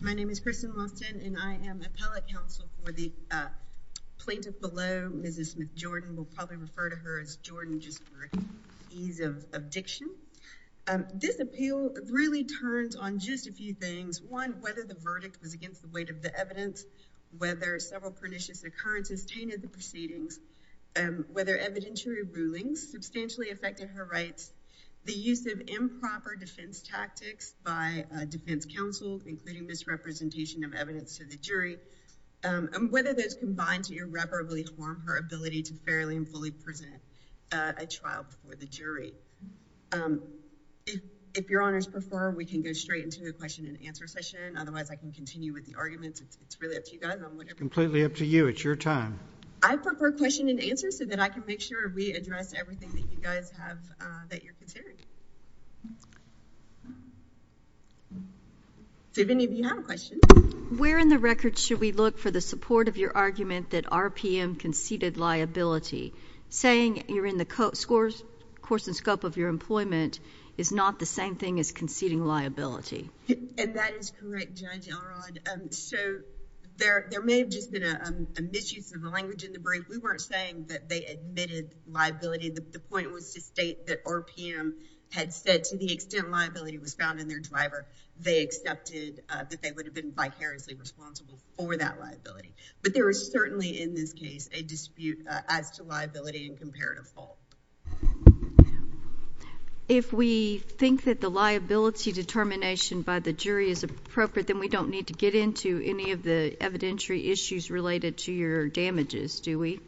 My name is Kristen Lawson and I am appellate counsel for the plaintiff below, Mrs. Smith-Jordan. We'll probably refer to her as Jordan just for ease of diction. This appeal really turns on just a few things, one, whether the verdict was against the weight of the evidence, whether several pernicious occurrences tainted the proceedings, whether evidentiary rulings substantially affected her rights, the use of improper defense tactics by defense counsel, including misrepresentation of evidence to the jury, and whether those combined to irreparably harm her ability to fairly and fully present a trial before the jury. If Your Honors prefer, we can go straight into the question-and-answer session. Otherwise, I can continue with the arguments. It's really up to you guys. It's completely up to you. It's your time. I prefer question and answer so that I can make sure we address everything that you guys have that you're considering. Do any of you have a question? Where in the record should we look for the support of your argument that RPM conceded liability? Saying you're in the course and scope of your employment is not the same thing as conceding liability. And that is correct, Judge Elrod. So, there may have just been a misuse of the language in the brief. We weren't saying that they admitted liability. The point was to state that RPM had said to the extent liability was found in their driver, they accepted that they would have been vicariously responsible for that liability. But there is certainly, in this case, a dispute as to liability and comparative fault. If we think that the liability determination by the jury is appropriate, then we don't need to get into any of the evidentiary issues related to your damages, do we?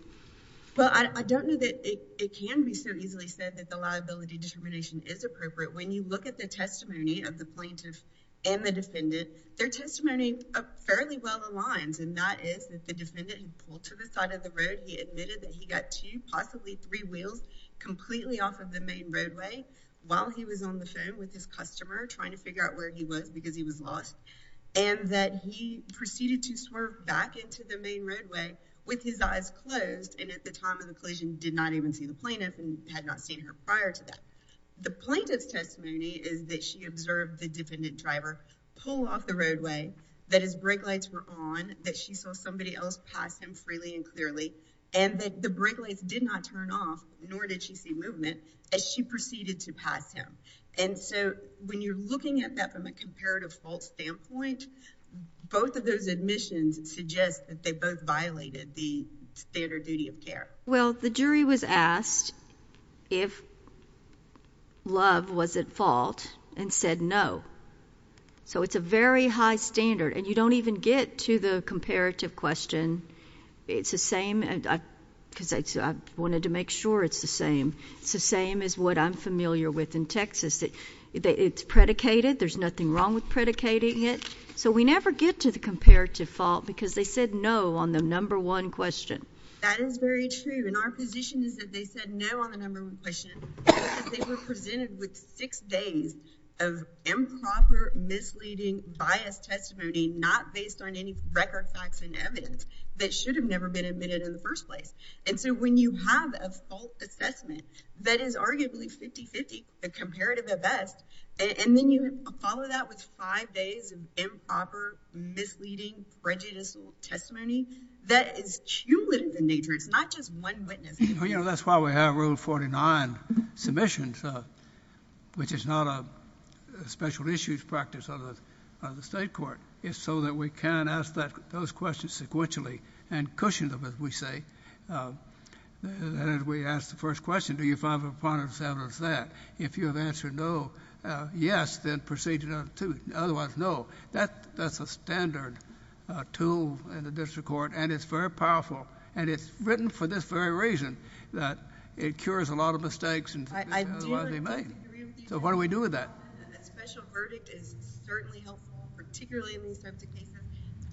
Well, I don't know that it can be so easily said that the liability determination is appropriate. When you look at the testimony of the plaintiff and the defendant, their testimony fairly well aligns. And that is that the defendant who pulled to the side of the road, he admitted that he got two, possibly three wheels completely off of the main roadway while he was on the phone with his customer trying to figure out where he was because he was lost. And that he proceeded to swerve back into the main roadway with his eyes closed and at the time of the collision did not even see the plaintiff and had not seen her prior to that. The plaintiff's testimony is that she observed the defendant driver pull off the roadway, that his brake lights were on, that she saw somebody else pass him freely and clearly, and that the brake lights did not turn off, nor did she see movement as she proceeded to pass him. And so when you're looking at that from a comparative fault standpoint, both of those admissions suggest that they both violated the standard duty of care. Well, the jury was asked if love was at fault and said no. So it's a very high standard. And you don't even get to the comparative question. It's the same, because I wanted to make sure it's the same. It's the same as what I'm familiar with in Texas. It's predicated. There's nothing wrong with predicating it. So we never get to the comparative fault because they said no on the number one question. That is very true. And our position is that they said no on the number one question because they were presented with six days of improper, misleading, biased testimony not based on any record facts and evidence that should have never been admitted in the first place. And so when you have a fault assessment that is arguably 50-50, a comparative at best, and then you follow that with five days of improper, misleading, prejudicial testimony, that is cumulative in nature. It's not just one witness. You know, that's why we have Rule 49 submissions, which is not a special issues practice of the state court. It's so that we can ask those questions sequentially and cushion them, as we say, as we ask the first question. Do you find the part of this evidence that? If you have answered no, yes, then proceed to number two. Otherwise, no. That's a standard tool in the district court, and it's very powerful. And it's written for this very reason, that it cures a lot of mistakes, and otherwise they may. So what do we do with that? A special verdict is certainly helpful, particularly in these types of cases.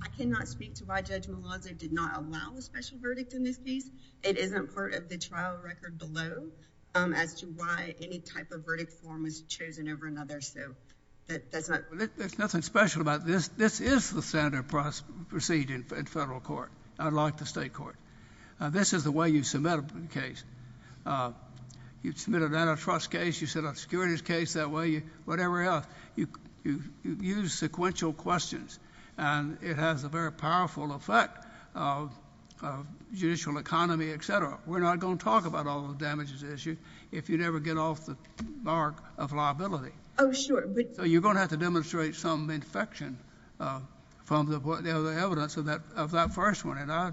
I cannot speak to why Judge Malazzo did not allow a special verdict in this case. It isn't part of the trial record below as to why any type of verdict form was chosen over another. So that's not. There's nothing special about this. This is the standard procedure in federal court, unlike the state court. This is the way you submit a case. You submit an antitrust case. You submit a securities case that way. Whatever else. You use sequential questions, and it has a very powerful effect of judicial economy, et cetera. We're not going to talk about all the damages issued if you never get off the mark of liability. Oh, sure. But... So you're going to have to demonstrate some infection from the evidence of that first one, and I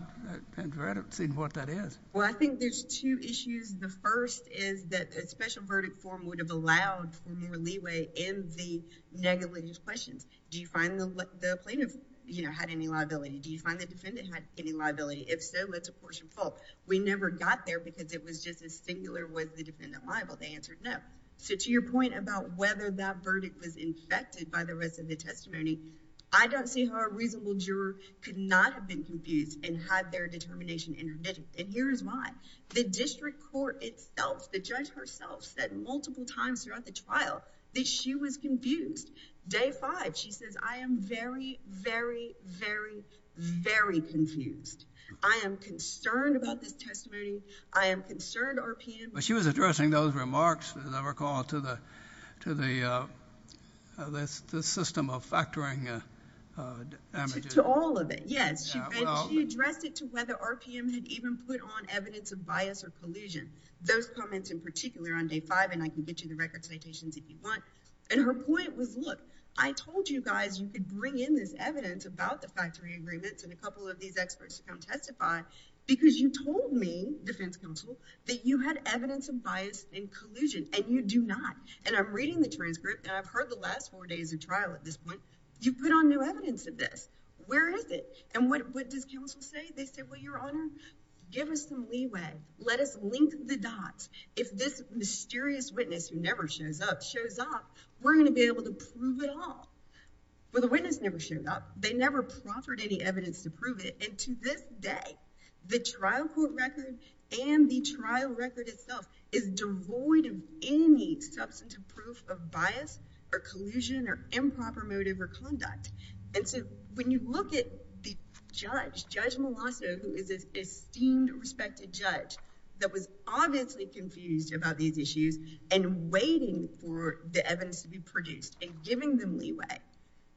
have never seen what that is. Well, I think there's two issues. The first is that a special verdict form would have allowed for more leeway in the negligent questions. Do you find the plaintiff had any liability? Do you find the defendant had any liability? If so, that's a portion fault. We never got there because it was just as singular was the defendant liable. They answered no. So to your point about whether that verdict was infected by the rest of the testimony, I don't see how a reasonable juror could not have been confused and had their determination interdicted. And here's why. The district court itself, the judge herself, said multiple times throughout the trial that she was confused. Day five, she says, I am very, very, very, very confused. I am concerned about this testimony. I am concerned RPM... But she was addressing those remarks, as I recall, to the system of factoring... To all of it, yes. She addressed it to whether RPM had even put on evidence of bias or collusion. Those comments in particular on day five, and I can get you the record citations if you want. And her point was, look, I told you guys you could bring in this evidence about the factoring agreements, and a couple of these experts don't testify because you told me, defense counsel, that you had evidence of bias and collusion, and you do not. And I'm reading the transcript, and I've heard the last four days of trial at this point. You put on new evidence of this. Where is it? And what does counsel say? They say, well, Your Honor, give us some leeway. Let us link the dots. If this mysterious witness who never shows up shows up, we're going to be able to prove it all. Well, the witness never showed up. They never proffered any evidence to prove it, and to this day, the trial court record and the trial record itself is devoid of any substantive proof of bias or collusion or improper motive or conduct. And so when you look at the judge, Judge Molasso, who is this esteemed, respected judge that was obviously confused about these issues and waiting for the evidence to be produced and giving them leeway,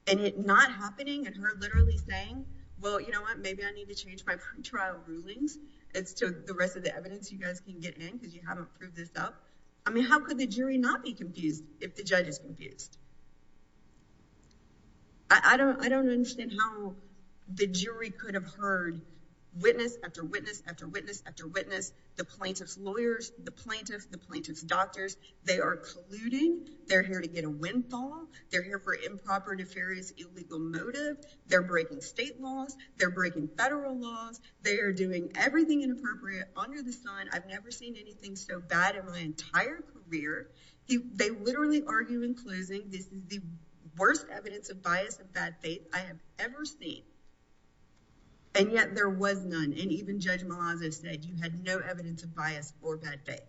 and it not happening, and her literally saying, well, you know what? Maybe I need to change my pretrial rulings as to the rest of the evidence you guys can get in because you haven't proved this up. I mean, how could the jury not be confused if the judge is confused? I don't understand how the jury could have heard witness after witness after witness after witness, the plaintiff's lawyers, the plaintiff, the plaintiff's doctors. They are colluding. They're here to get a windfall. They're here for improper, nefarious, illegal motive. They're breaking state laws. They're breaking federal laws. They are doing everything inappropriate under the sun. I've never seen anything so bad in my entire career. They literally argue in closing, this is the worst evidence of bias of bad faith I have ever seen, and yet there was none, and even Judge Molasso said you had no evidence of bias or bad faith.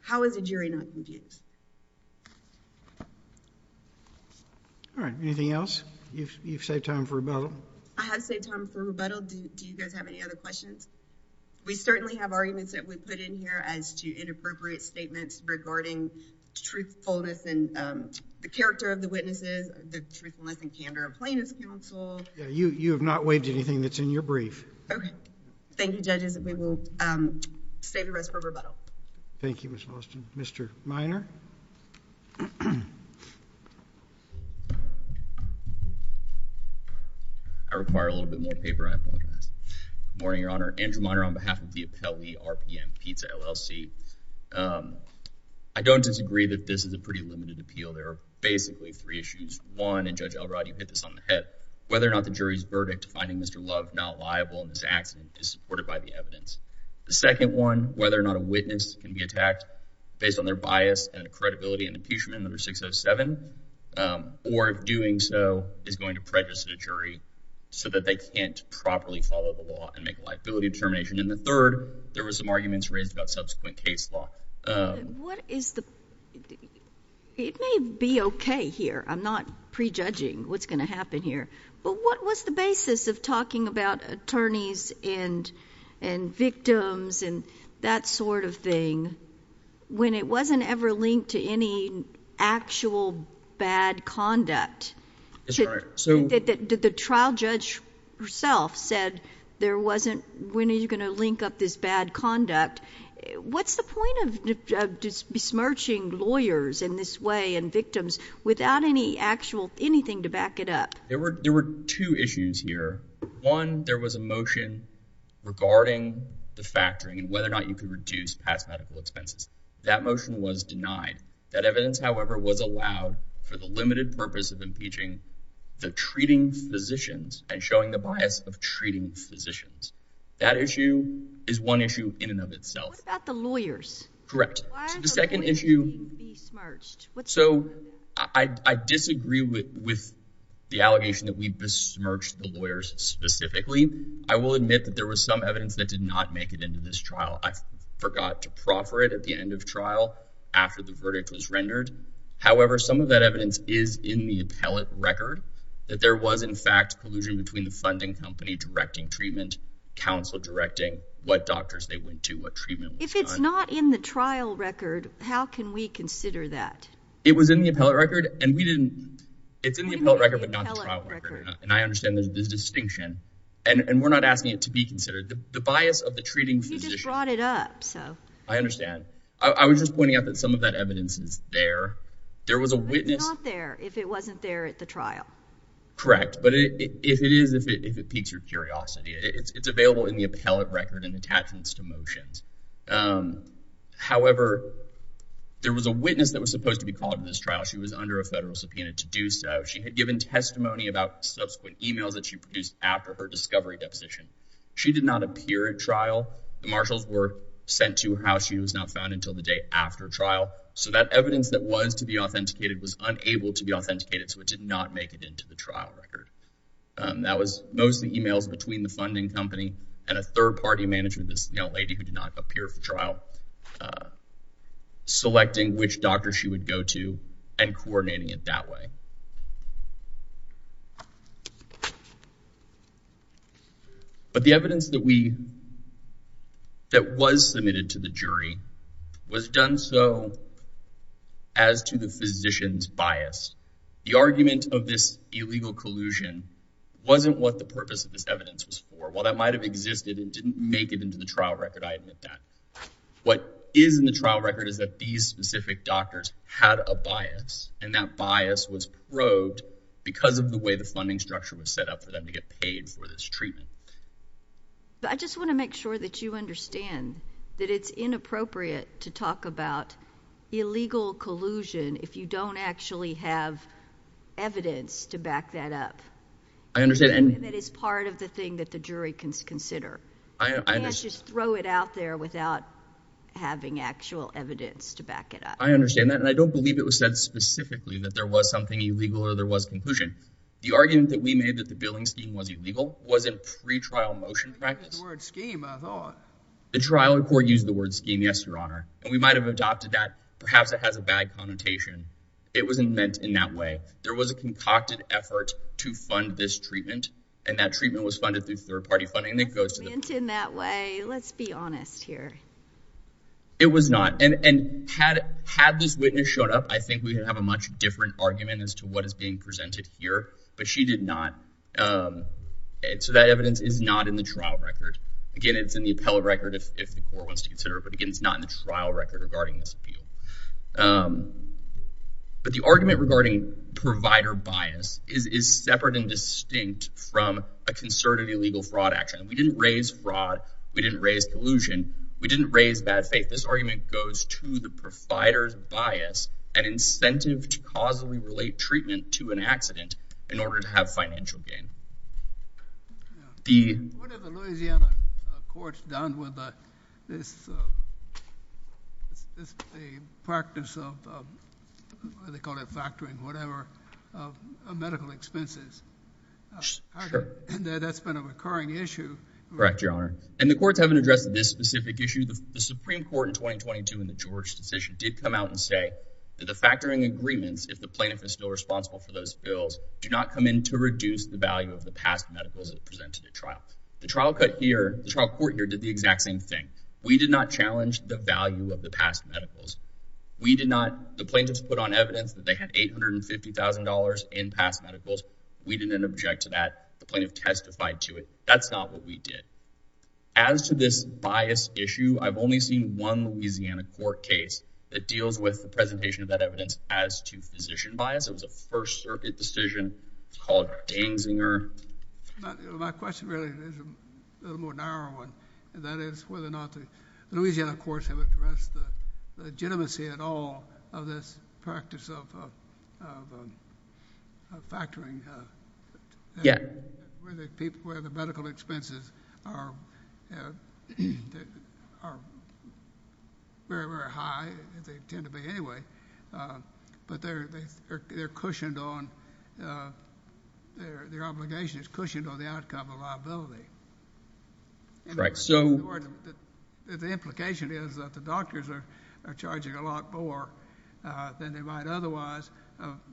How is a jury not confused? All right. Anything else? You've saved time for rebuttal. I have saved time for rebuttal. Do you guys have any other questions? We certainly have arguments that we put in here as to inappropriate statements regarding truthfulness and the character of the witnesses, the truthfulness and candor of plaintiff's counsel. You have not waived anything that's in your brief. Okay. Thank you, judges. We will save the rest for rebuttal. Thank you, Ms. Boston. Mr. Minor? I require a little bit more paper, I apologize. Good morning, Your Honor. Andrew Minor on behalf of the Appellee RPM Pizza, LLC. I don't disagree that this is a pretty limited appeal. There are basically three issues. One, and Judge Elrod, you hit this on the head, whether or not the jury's verdict finding Mr. Love not liable in this accident is supported by the evidence. The second one, whether or not a witness can be attacked based on their bias and credibility in impeachment under 607, or doing so is going to prejudice the jury so that they can't properly follow the law and make a liability determination. And the third, there were some arguments raised about subsequent case law. It may be okay here. I'm not prejudging what's going to happen here. But what was the basis of talking about attorneys and victims and that sort of thing when it wasn't ever linked to any actual bad conduct? The trial judge herself said, when are you going to link up this bad conduct? What's the point of besmirching lawyers in this way and victims without anything to back it up? There were two issues here. One, there was a motion regarding the factoring and whether or not you could That motion was denied. That evidence, however, was allowed for the limited purpose of impeaching the treating physicians and showing the bias of treating physicians. That issue is one issue in and of itself. What about the lawyers? Correct. The second issue. So I disagree with the allegation that we besmirched the lawyers specifically. I will admit that there was some evidence that did not make it into this trial. I forgot to proffer it at the end of trial after the verdict was rendered. However, some of that evidence is in the appellate record that there was, in fact, collusion between the funding company directing treatment, counsel directing what doctors they went to, what treatment was done. If it's not in the trial record, how can we consider that? It was in the appellate record, and we didn't. It's in the appellate record, but not the trial record. And I understand there's this distinction. And we're not asking it to be considered. The bias of the treating physician. You just brought it up. I understand. I was just pointing out that some of that evidence is there. But it's not there if it wasn't there at the trial. Correct. But it is if it piques your curiosity. It's available in the appellate record and attachments to motions. However, there was a witness that was supposed to be called to this trial. She was under a federal subpoena to do so. She had given testimony about subsequent e-mails that she produced after her discovery deposition. She did not appear at trial. The marshals were sent to her house. She was not found until the day after trial. So that evidence that was to be authenticated was unable to be authenticated, so it did not make it into the trial record. That was mostly e-mails between the funding company and a third-party management, this young lady who did not appear for trial, selecting which doctor she would go to and coordinating it that way. But the evidence that was submitted to the jury was done so as to the physician's bias. The argument of this illegal collusion wasn't what the purpose of this evidence was for. While that might have existed and didn't make it into the trial record, I admit that. What is in the trial record is that these specific doctors had a bias, and that bias was probed because of the way the funding structure was set up for them to get paid for this treatment. But I just want to make sure that you understand that it's inappropriate to talk about illegal collusion if you don't actually have evidence to back that up. I understand. And that is part of the thing that the jury can consider. I understand. You can't just throw it out there without having actual evidence to back it up. I understand that. And I don't believe it was said specifically that there was something illegal or there was collusion. The argument that we made that the billing scheme was illegal was in pre-trial motion practice. The trial record used the word scheme, yes, Your Honor. And we might have adopted that. Perhaps it has a bad connotation. It wasn't meant in that way. There was a concocted effort to fund this treatment, and that treatment was funded through third-party funding. It goes to the court. It wasn't meant in that way. Let's be honest here. It was not. And had this witness shown up, I think we would have a much different argument as to what is being presented here. But she did not. So that evidence is not in the trial record. Again, it's in the appellate record if the court wants to consider it. But, again, it's not in the trial record regarding this appeal. But the argument regarding provider bias is separate and distinct from a concerted illegal fraud action. We didn't raise fraud. We didn't raise collusion. We didn't raise bad faith. This argument goes to the provider's bias, an incentive to causally relate treatment to an accident in order to have financial gain. What have the Louisiana courts done with this practice of, they call it factoring, whatever, of medical expenses? Sure. That's been a recurring issue. Correct, Your Honor. And the courts haven't addressed this specific issue. The Supreme Court in 2022 in the George decision did come out and say that the factoring agreements, if the plaintiff is still responsible for those bills, do not come in to reduce the value of the past medicals that are presented at trial. The trial court here did the exact same thing. We did not challenge the value of the past medicals. The plaintiffs put on evidence that they had $850,000 in past medicals. We didn't object to that. The plaintiff testified to it. That's not what we did. As to this bias issue, I've only seen one Louisiana court case that deals with the presentation of that evidence as to physician bias. It was a First Circuit decision. It's called Gangzinger. My question really is a little more narrow one, and that is whether or not the Louisiana courts have addressed the legitimacy at all of this practice of factoring, where the medical expenses are very, very high, as they tend to be anyway, but their obligation is cushioned on the outcome of liability. The implication is that the doctors are charging a lot more than they would otherwise,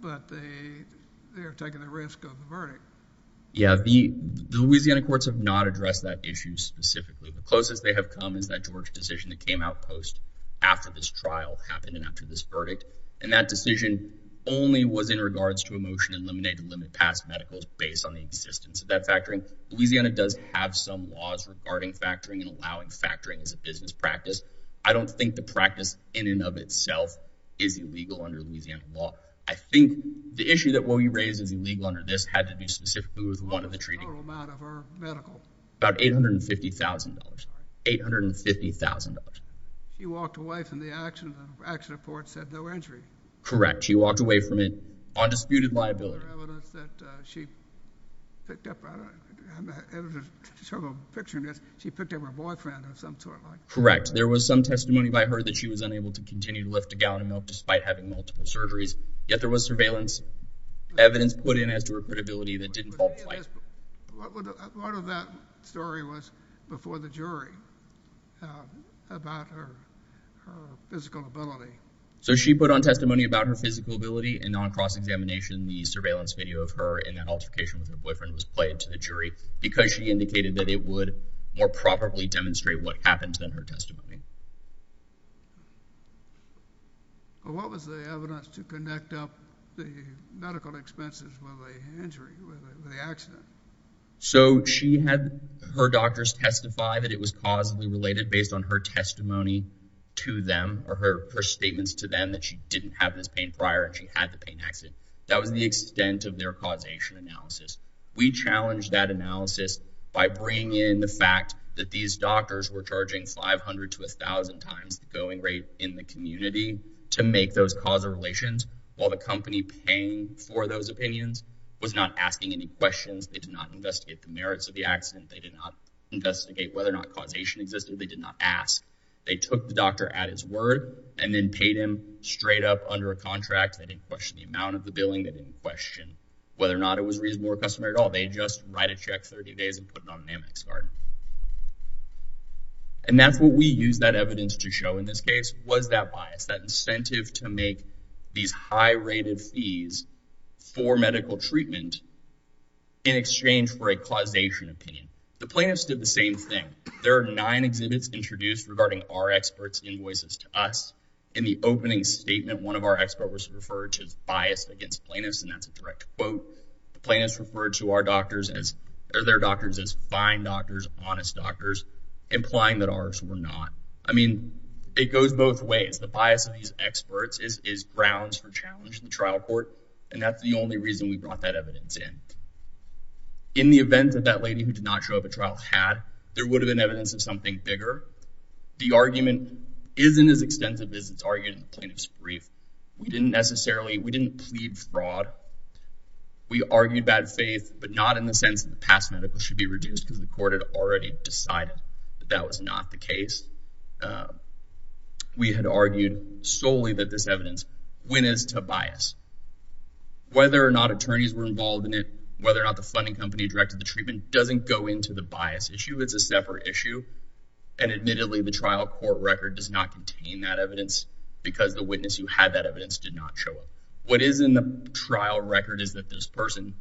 but they are taking the risk of the verdict. Yeah. The Louisiana courts have not addressed that issue specifically. The closest they have come is that George decision that came out post after this trial happened and after this verdict, and that decision only was in regards to a motion to eliminate and limit past medicals based on the existence of that factoring. Louisiana does have some laws regarding factoring and allowing factoring as a business practice. I don't think the practice in and of itself is illegal under Louisiana law. I think the issue that what we raised is illegal under this had to do specifically with one of the treaties. What was the total amount of her medical? About $850,000. $850,000. She walked away from the accident, and the accident report said no injury. Correct. She walked away from it on disputed liability. Is there evidence that she picked up, I'm having trouble picturing this, she picked up her boyfriend of some sort like that? Correct. There was some testimony by her that she was unable to continue to lift a gallon of milk despite having multiple surgeries, yet there was surveillance evidence put in as to her credibility that didn't qualify. Part of that story was before the jury about her physical ability. So she put on testimony about her physical ability, and on cross-examination the surveillance video of her and that altercation with her boyfriend was played to the jury because she indicated that it would more probably demonstrate what happened to her testimony. What was the evidence to connect up the medical expenses with the injury, with the accident? So she had her doctors testify that it was causally related based on her testimony to them, or her statements to them that she didn't have this pain prior and she had the pain accident. That was the extent of their causation analysis. We challenged that analysis by bringing in the fact that these doctors were charging 500 to a thousand times the going rate in the community to make those causal relations while the company paying for those opinions was not asking any questions. They did not investigate the merits of the accident. They did not investigate whether or not causation existed. They did not ask. They took the doctor at his word and then paid him straight up under a contract. They didn't question the amount of the billing. They didn't question whether or not it was reasonable or customary at all. They just write a check 30 days and put it on an Amex card. And that's what we used that evidence to show in this case was that bias, that incentive to make these high rated fees for medical treatment in exchange for a causation opinion. The plaintiffs did the same thing. There are nine exhibits introduced regarding our experts invoices to us. In the opening statement, one of our experts was referred to as biased against plaintiffs. And that's a direct quote. The plaintiffs referred to our doctors as, their doctors as fine doctors, honest doctors, implying that ours were not. I mean, it goes both ways. The bias of these experts is grounds for challenge in the trial court. And that's the only reason we brought that evidence in. In the event that that lady who did not show up at trial had, there would have been evidence of something bigger. The argument isn't as extensive as it's argued in the plaintiff's brief. We didn't necessarily, we didn't plead fraud. We argued bad faith, but not in the sense of the past medical should be reduced because the court had already decided that that was not the case. We had argued solely that this evidence, when is to bias whether or not attorneys were involved in it, whether or not the funding company directed the treatment doesn't go into the bias issue. It's a separate issue. And admittedly, the trial court record does not contain that evidence because the witness who had that evidence did not show up. What is in the trial record is that this person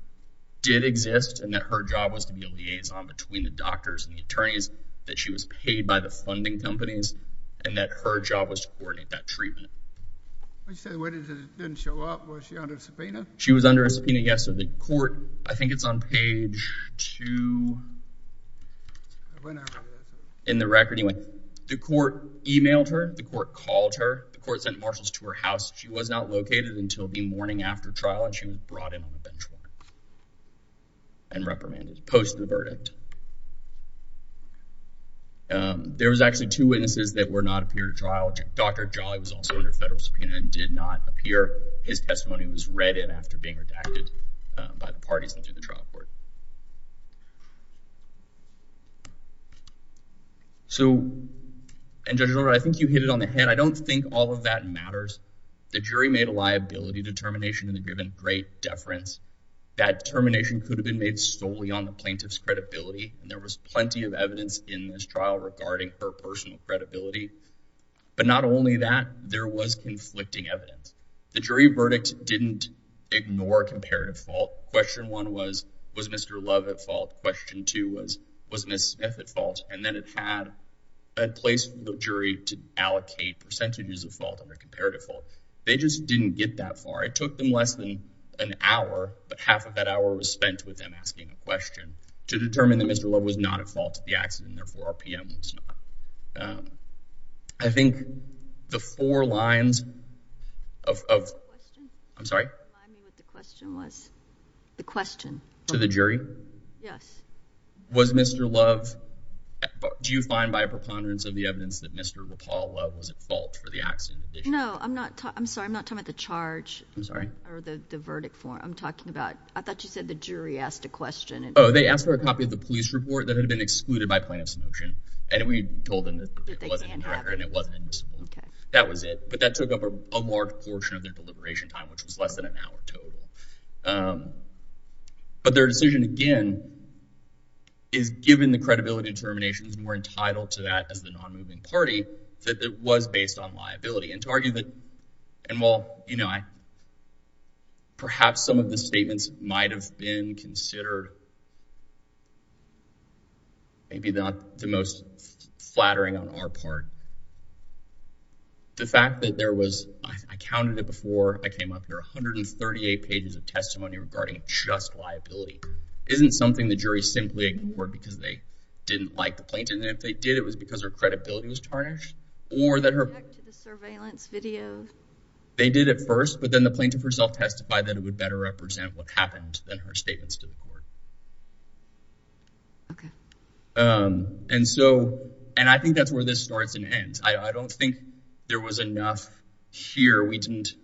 did exist and that her job was to be a liaison between the doctors and the attorneys that she was paid by the funding companies and that her job was to coordinate that treatment. I said, where did it didn't show up? Was she under a subpoena? She was under a subpoena. Yes. So the court, I think it's on page two in the record. He went, the court emailed her, the court called her, the court sent marshals to her house. She was not located until the morning after trial. And she was brought in and reprimanded post the verdict. There was actually two witnesses that were not appear to trial. Dr. Jolly was also under federal subpoena and did not appear. His testimony was read in after being redacted by the parties and through the trial court. So, and judge Laura, I think you hit it on the head. I don't think all of that matters. The jury made a liability determination in the given great deference. That termination could have been made solely on the plaintiff's credibility. And there was plenty of evidence in this trial regarding her personal credibility, but not only that there was conflicting evidence. The jury verdict didn't ignore comparative fault. Question one was, was Mr. Love at fault. Question two was, was Ms. Smith at fault. And then it had a place for the jury to allocate percentages of fault under comparative fault. They just didn't get that far. It took them less than an hour, but half of that hour was spent with them asking a question to determine that Mr. Love was not at fault at the accident. Therefore our PM was not. I think the four lines of, I'm sorry. The question was the question to the jury. Yes. Was Mr. Love. Do you find by a preponderance of the evidence that Mr. Love was at fault for the accident? No, I'm not. I'm sorry. I'm not talking about the charge. I'm sorry. Or the verdict for I'm talking about. I thought you said the jury asked a question. Oh, they asked for a copy of the police report that had been excluded by plaintiff's notion. And we told them that it wasn't in the record and it wasn't. Okay. That was it. But that took up a large portion of their deliberation time, which was less than an hour total. But their decision again. Is given the credibility determinations and we're entitled to that as the non-moving party, that it was based on liability and to argue that. And while, you know, I. Perhaps some of the statements might've been considered. Maybe not the most flattering on our part. The fact that there was, I counted it before I came up here, 138 pages of testimony regarding just liability. Isn't something the jury simply ignored because they didn't like the plaintiff. And if they did, it was because her credibility was tarnished. Or that her surveillance video. They did at first, but then the plaintiff herself testified that it would better represent what happened than her statements to the court. Okay. And so, and I think that's where this starts and ends. I don't think there was enough here. We didn't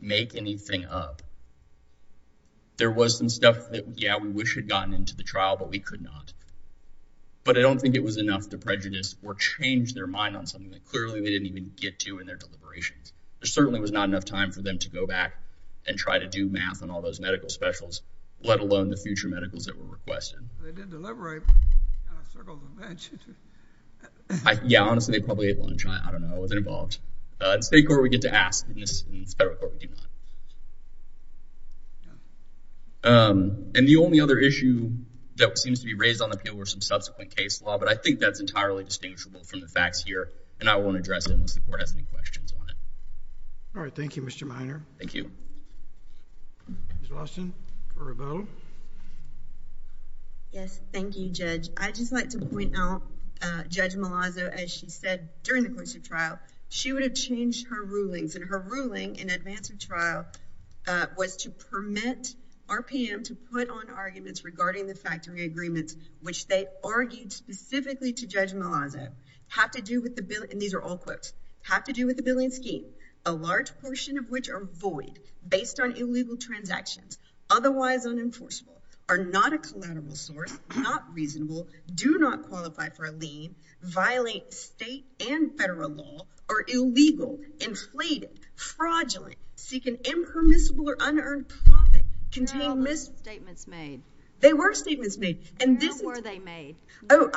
make anything up. There was some stuff that, yeah, we wish had gotten into the trial, but we could not. But I don't think it was enough to prejudice or change their mind on something that clearly they didn't even get to in their deliberations. There certainly was not enough time for them to go back and try to do math and all those medical specials. Let alone the future medicals that were requested. Yeah. Honestly, they probably ate lunch. I don't know. I wasn't involved. In state court, we get to ask. In federal court, we do not. And the only other issue that seems to be raised on the appeal were some subsequent case law. But I think that's entirely distinguishable from the facts here. And I won't address it unless the court has any questions on it. All right. Thank you, Mr. Minor. Thank you. Ms. Austin, for a vote. Yes. Thank you, Judge. I'd just like to point out Judge Malazzo, as she said during the course of trial, she would have changed her rulings. And her ruling in advance of trial was to permit RPM to put on arguments regarding the factory agreements, which they argued specifically to Judge Malazzo, have to do with the bill. And these are all quotes. Have to do with the billing scheme, a large portion of which are void based on illegal transactions, otherwise unenforceable, are not a collateral source, not reasonable, do not qualify for a lien, violate state and federal law, are illegal, inflated, fraudulent, seek an impermissible or unearned profit, contain mis- They're all statements made. They were statements made. And this is- And how were they made? Oh,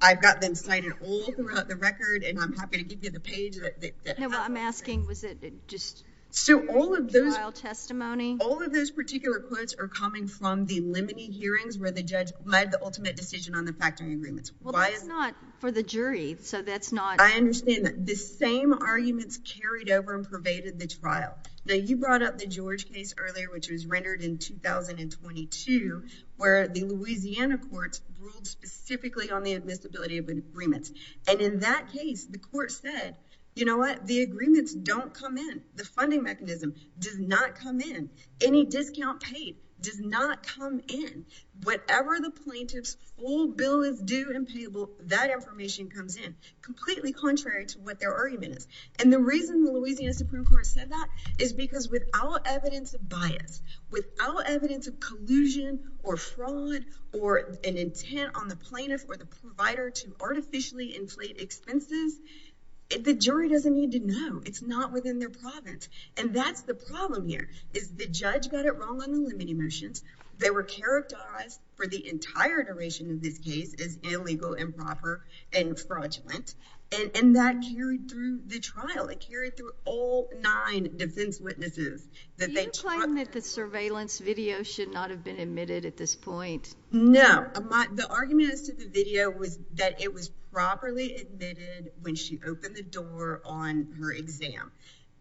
I've got them cited all throughout the record. And I'm happy to give you the page that- No, I'm asking, was it just- So all of those- Trial testimony. All of those particular quotes are coming from the limiting hearings where the judge made the ultimate decision on the factory agreements. Why is- Well, that's not for the jury, so that's not- I understand that. The same arguments carried over and pervaded the trial. Now, you brought up the George case earlier, which was rendered in 2022, where the Louisiana courts ruled specifically on the admissibility of agreements. And in that case, the court said, you know what? The agreements don't come in. The funding mechanism does not come in. Any discount paid does not come in. Whatever the plaintiff's full bill is due and payable, that information comes in, completely contrary to what their argument is. And the reason the Louisiana Supreme Court said that is because without evidence of bias, without evidence of collusion or fraud or an intent on the plaintiff or the provider to artificially inflate expenses, the jury doesn't need to know. It's not within their province. And that's the problem here, is the judge got it wrong on the limiting motions. They were characterized for the entire duration of this case as illegal, improper, and fraudulent. And that carried through the trial. It carried through all nine defense witnesses. Do you claim that the surveillance video should not have been admitted at this point? No. The argument as to the video was that it was properly admitted when she opened the door on her exam.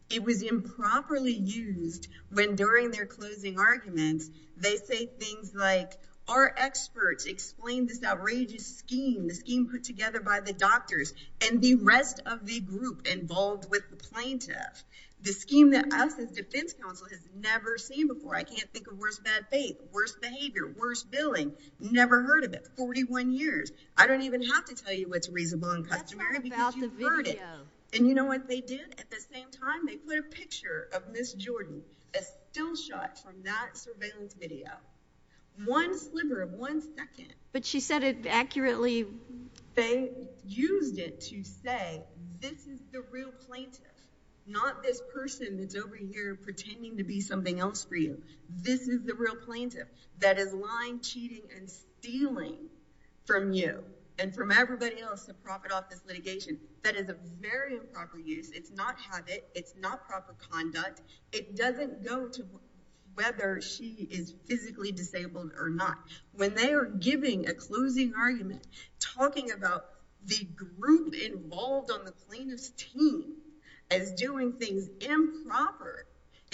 It was improperly used when during their closing arguments, they say things like, our experts explained this outrageous scheme, the scheme put together by the doctors, and the rest of the group involved with the plaintiff. The scheme that us as defense counsel has never seen before. I can't think of worse bad faith, worse behavior, worse billing. Never heard of it. 41 years. I don't even have to tell you what's reasonable and customary because you've heard it. And you know what they did at the same time? They put a picture of Ms. Jordan, a still shot from that surveillance video. One sliver of one second. But she said it accurately. They used it to say, this is the real plaintiff. Not this person that's over here pretending to be something else for you. This is the real plaintiff that is lying, cheating, and stealing from you and from everybody else to profit off this litigation. That is a very improper use. It's not habit. It's not proper conduct. It doesn't go to whether she is physically disabled or not. When they are giving a closing argument, talking about the group involved on the plaintiff's team as doing things improper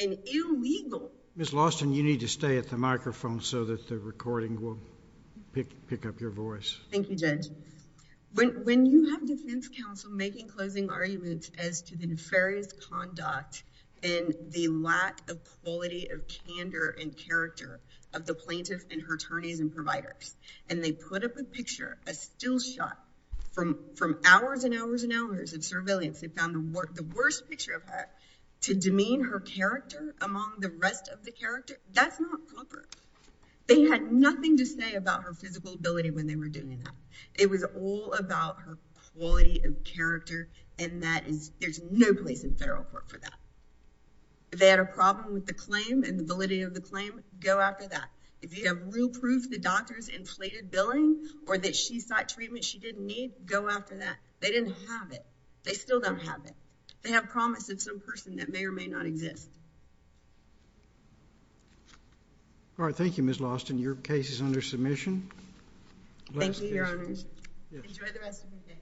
and illegal. Ms. Lawson, you need to stay at the microphone so that the recording will pick up your voice. Thank you, Judge. When you have defense counsel making closing arguments as to the nefarious conduct and the lack of quality of candor and character of the plaintiff and her attorneys and providers, and they put up a picture, a still shot, from hours and hours and hours of surveillance. They found the worst picture of her to demean her character among the rest of the character. That's not proper. They had nothing to say about her physical ability when they were doing that. It was all about her quality of character, and there's no place in federal court for that. If they had a problem with the claim and the validity of the claim, go after that. If you have real proof the doctor's inflated billing or that she sought treatment she didn't need, go after that. They didn't have it. They still don't have it. They have promise of some person that may or may not exist. All right. Thank you, Ms. Lawson. Your case is under submission. Thank you, Your Honors. Enjoy the rest of your day.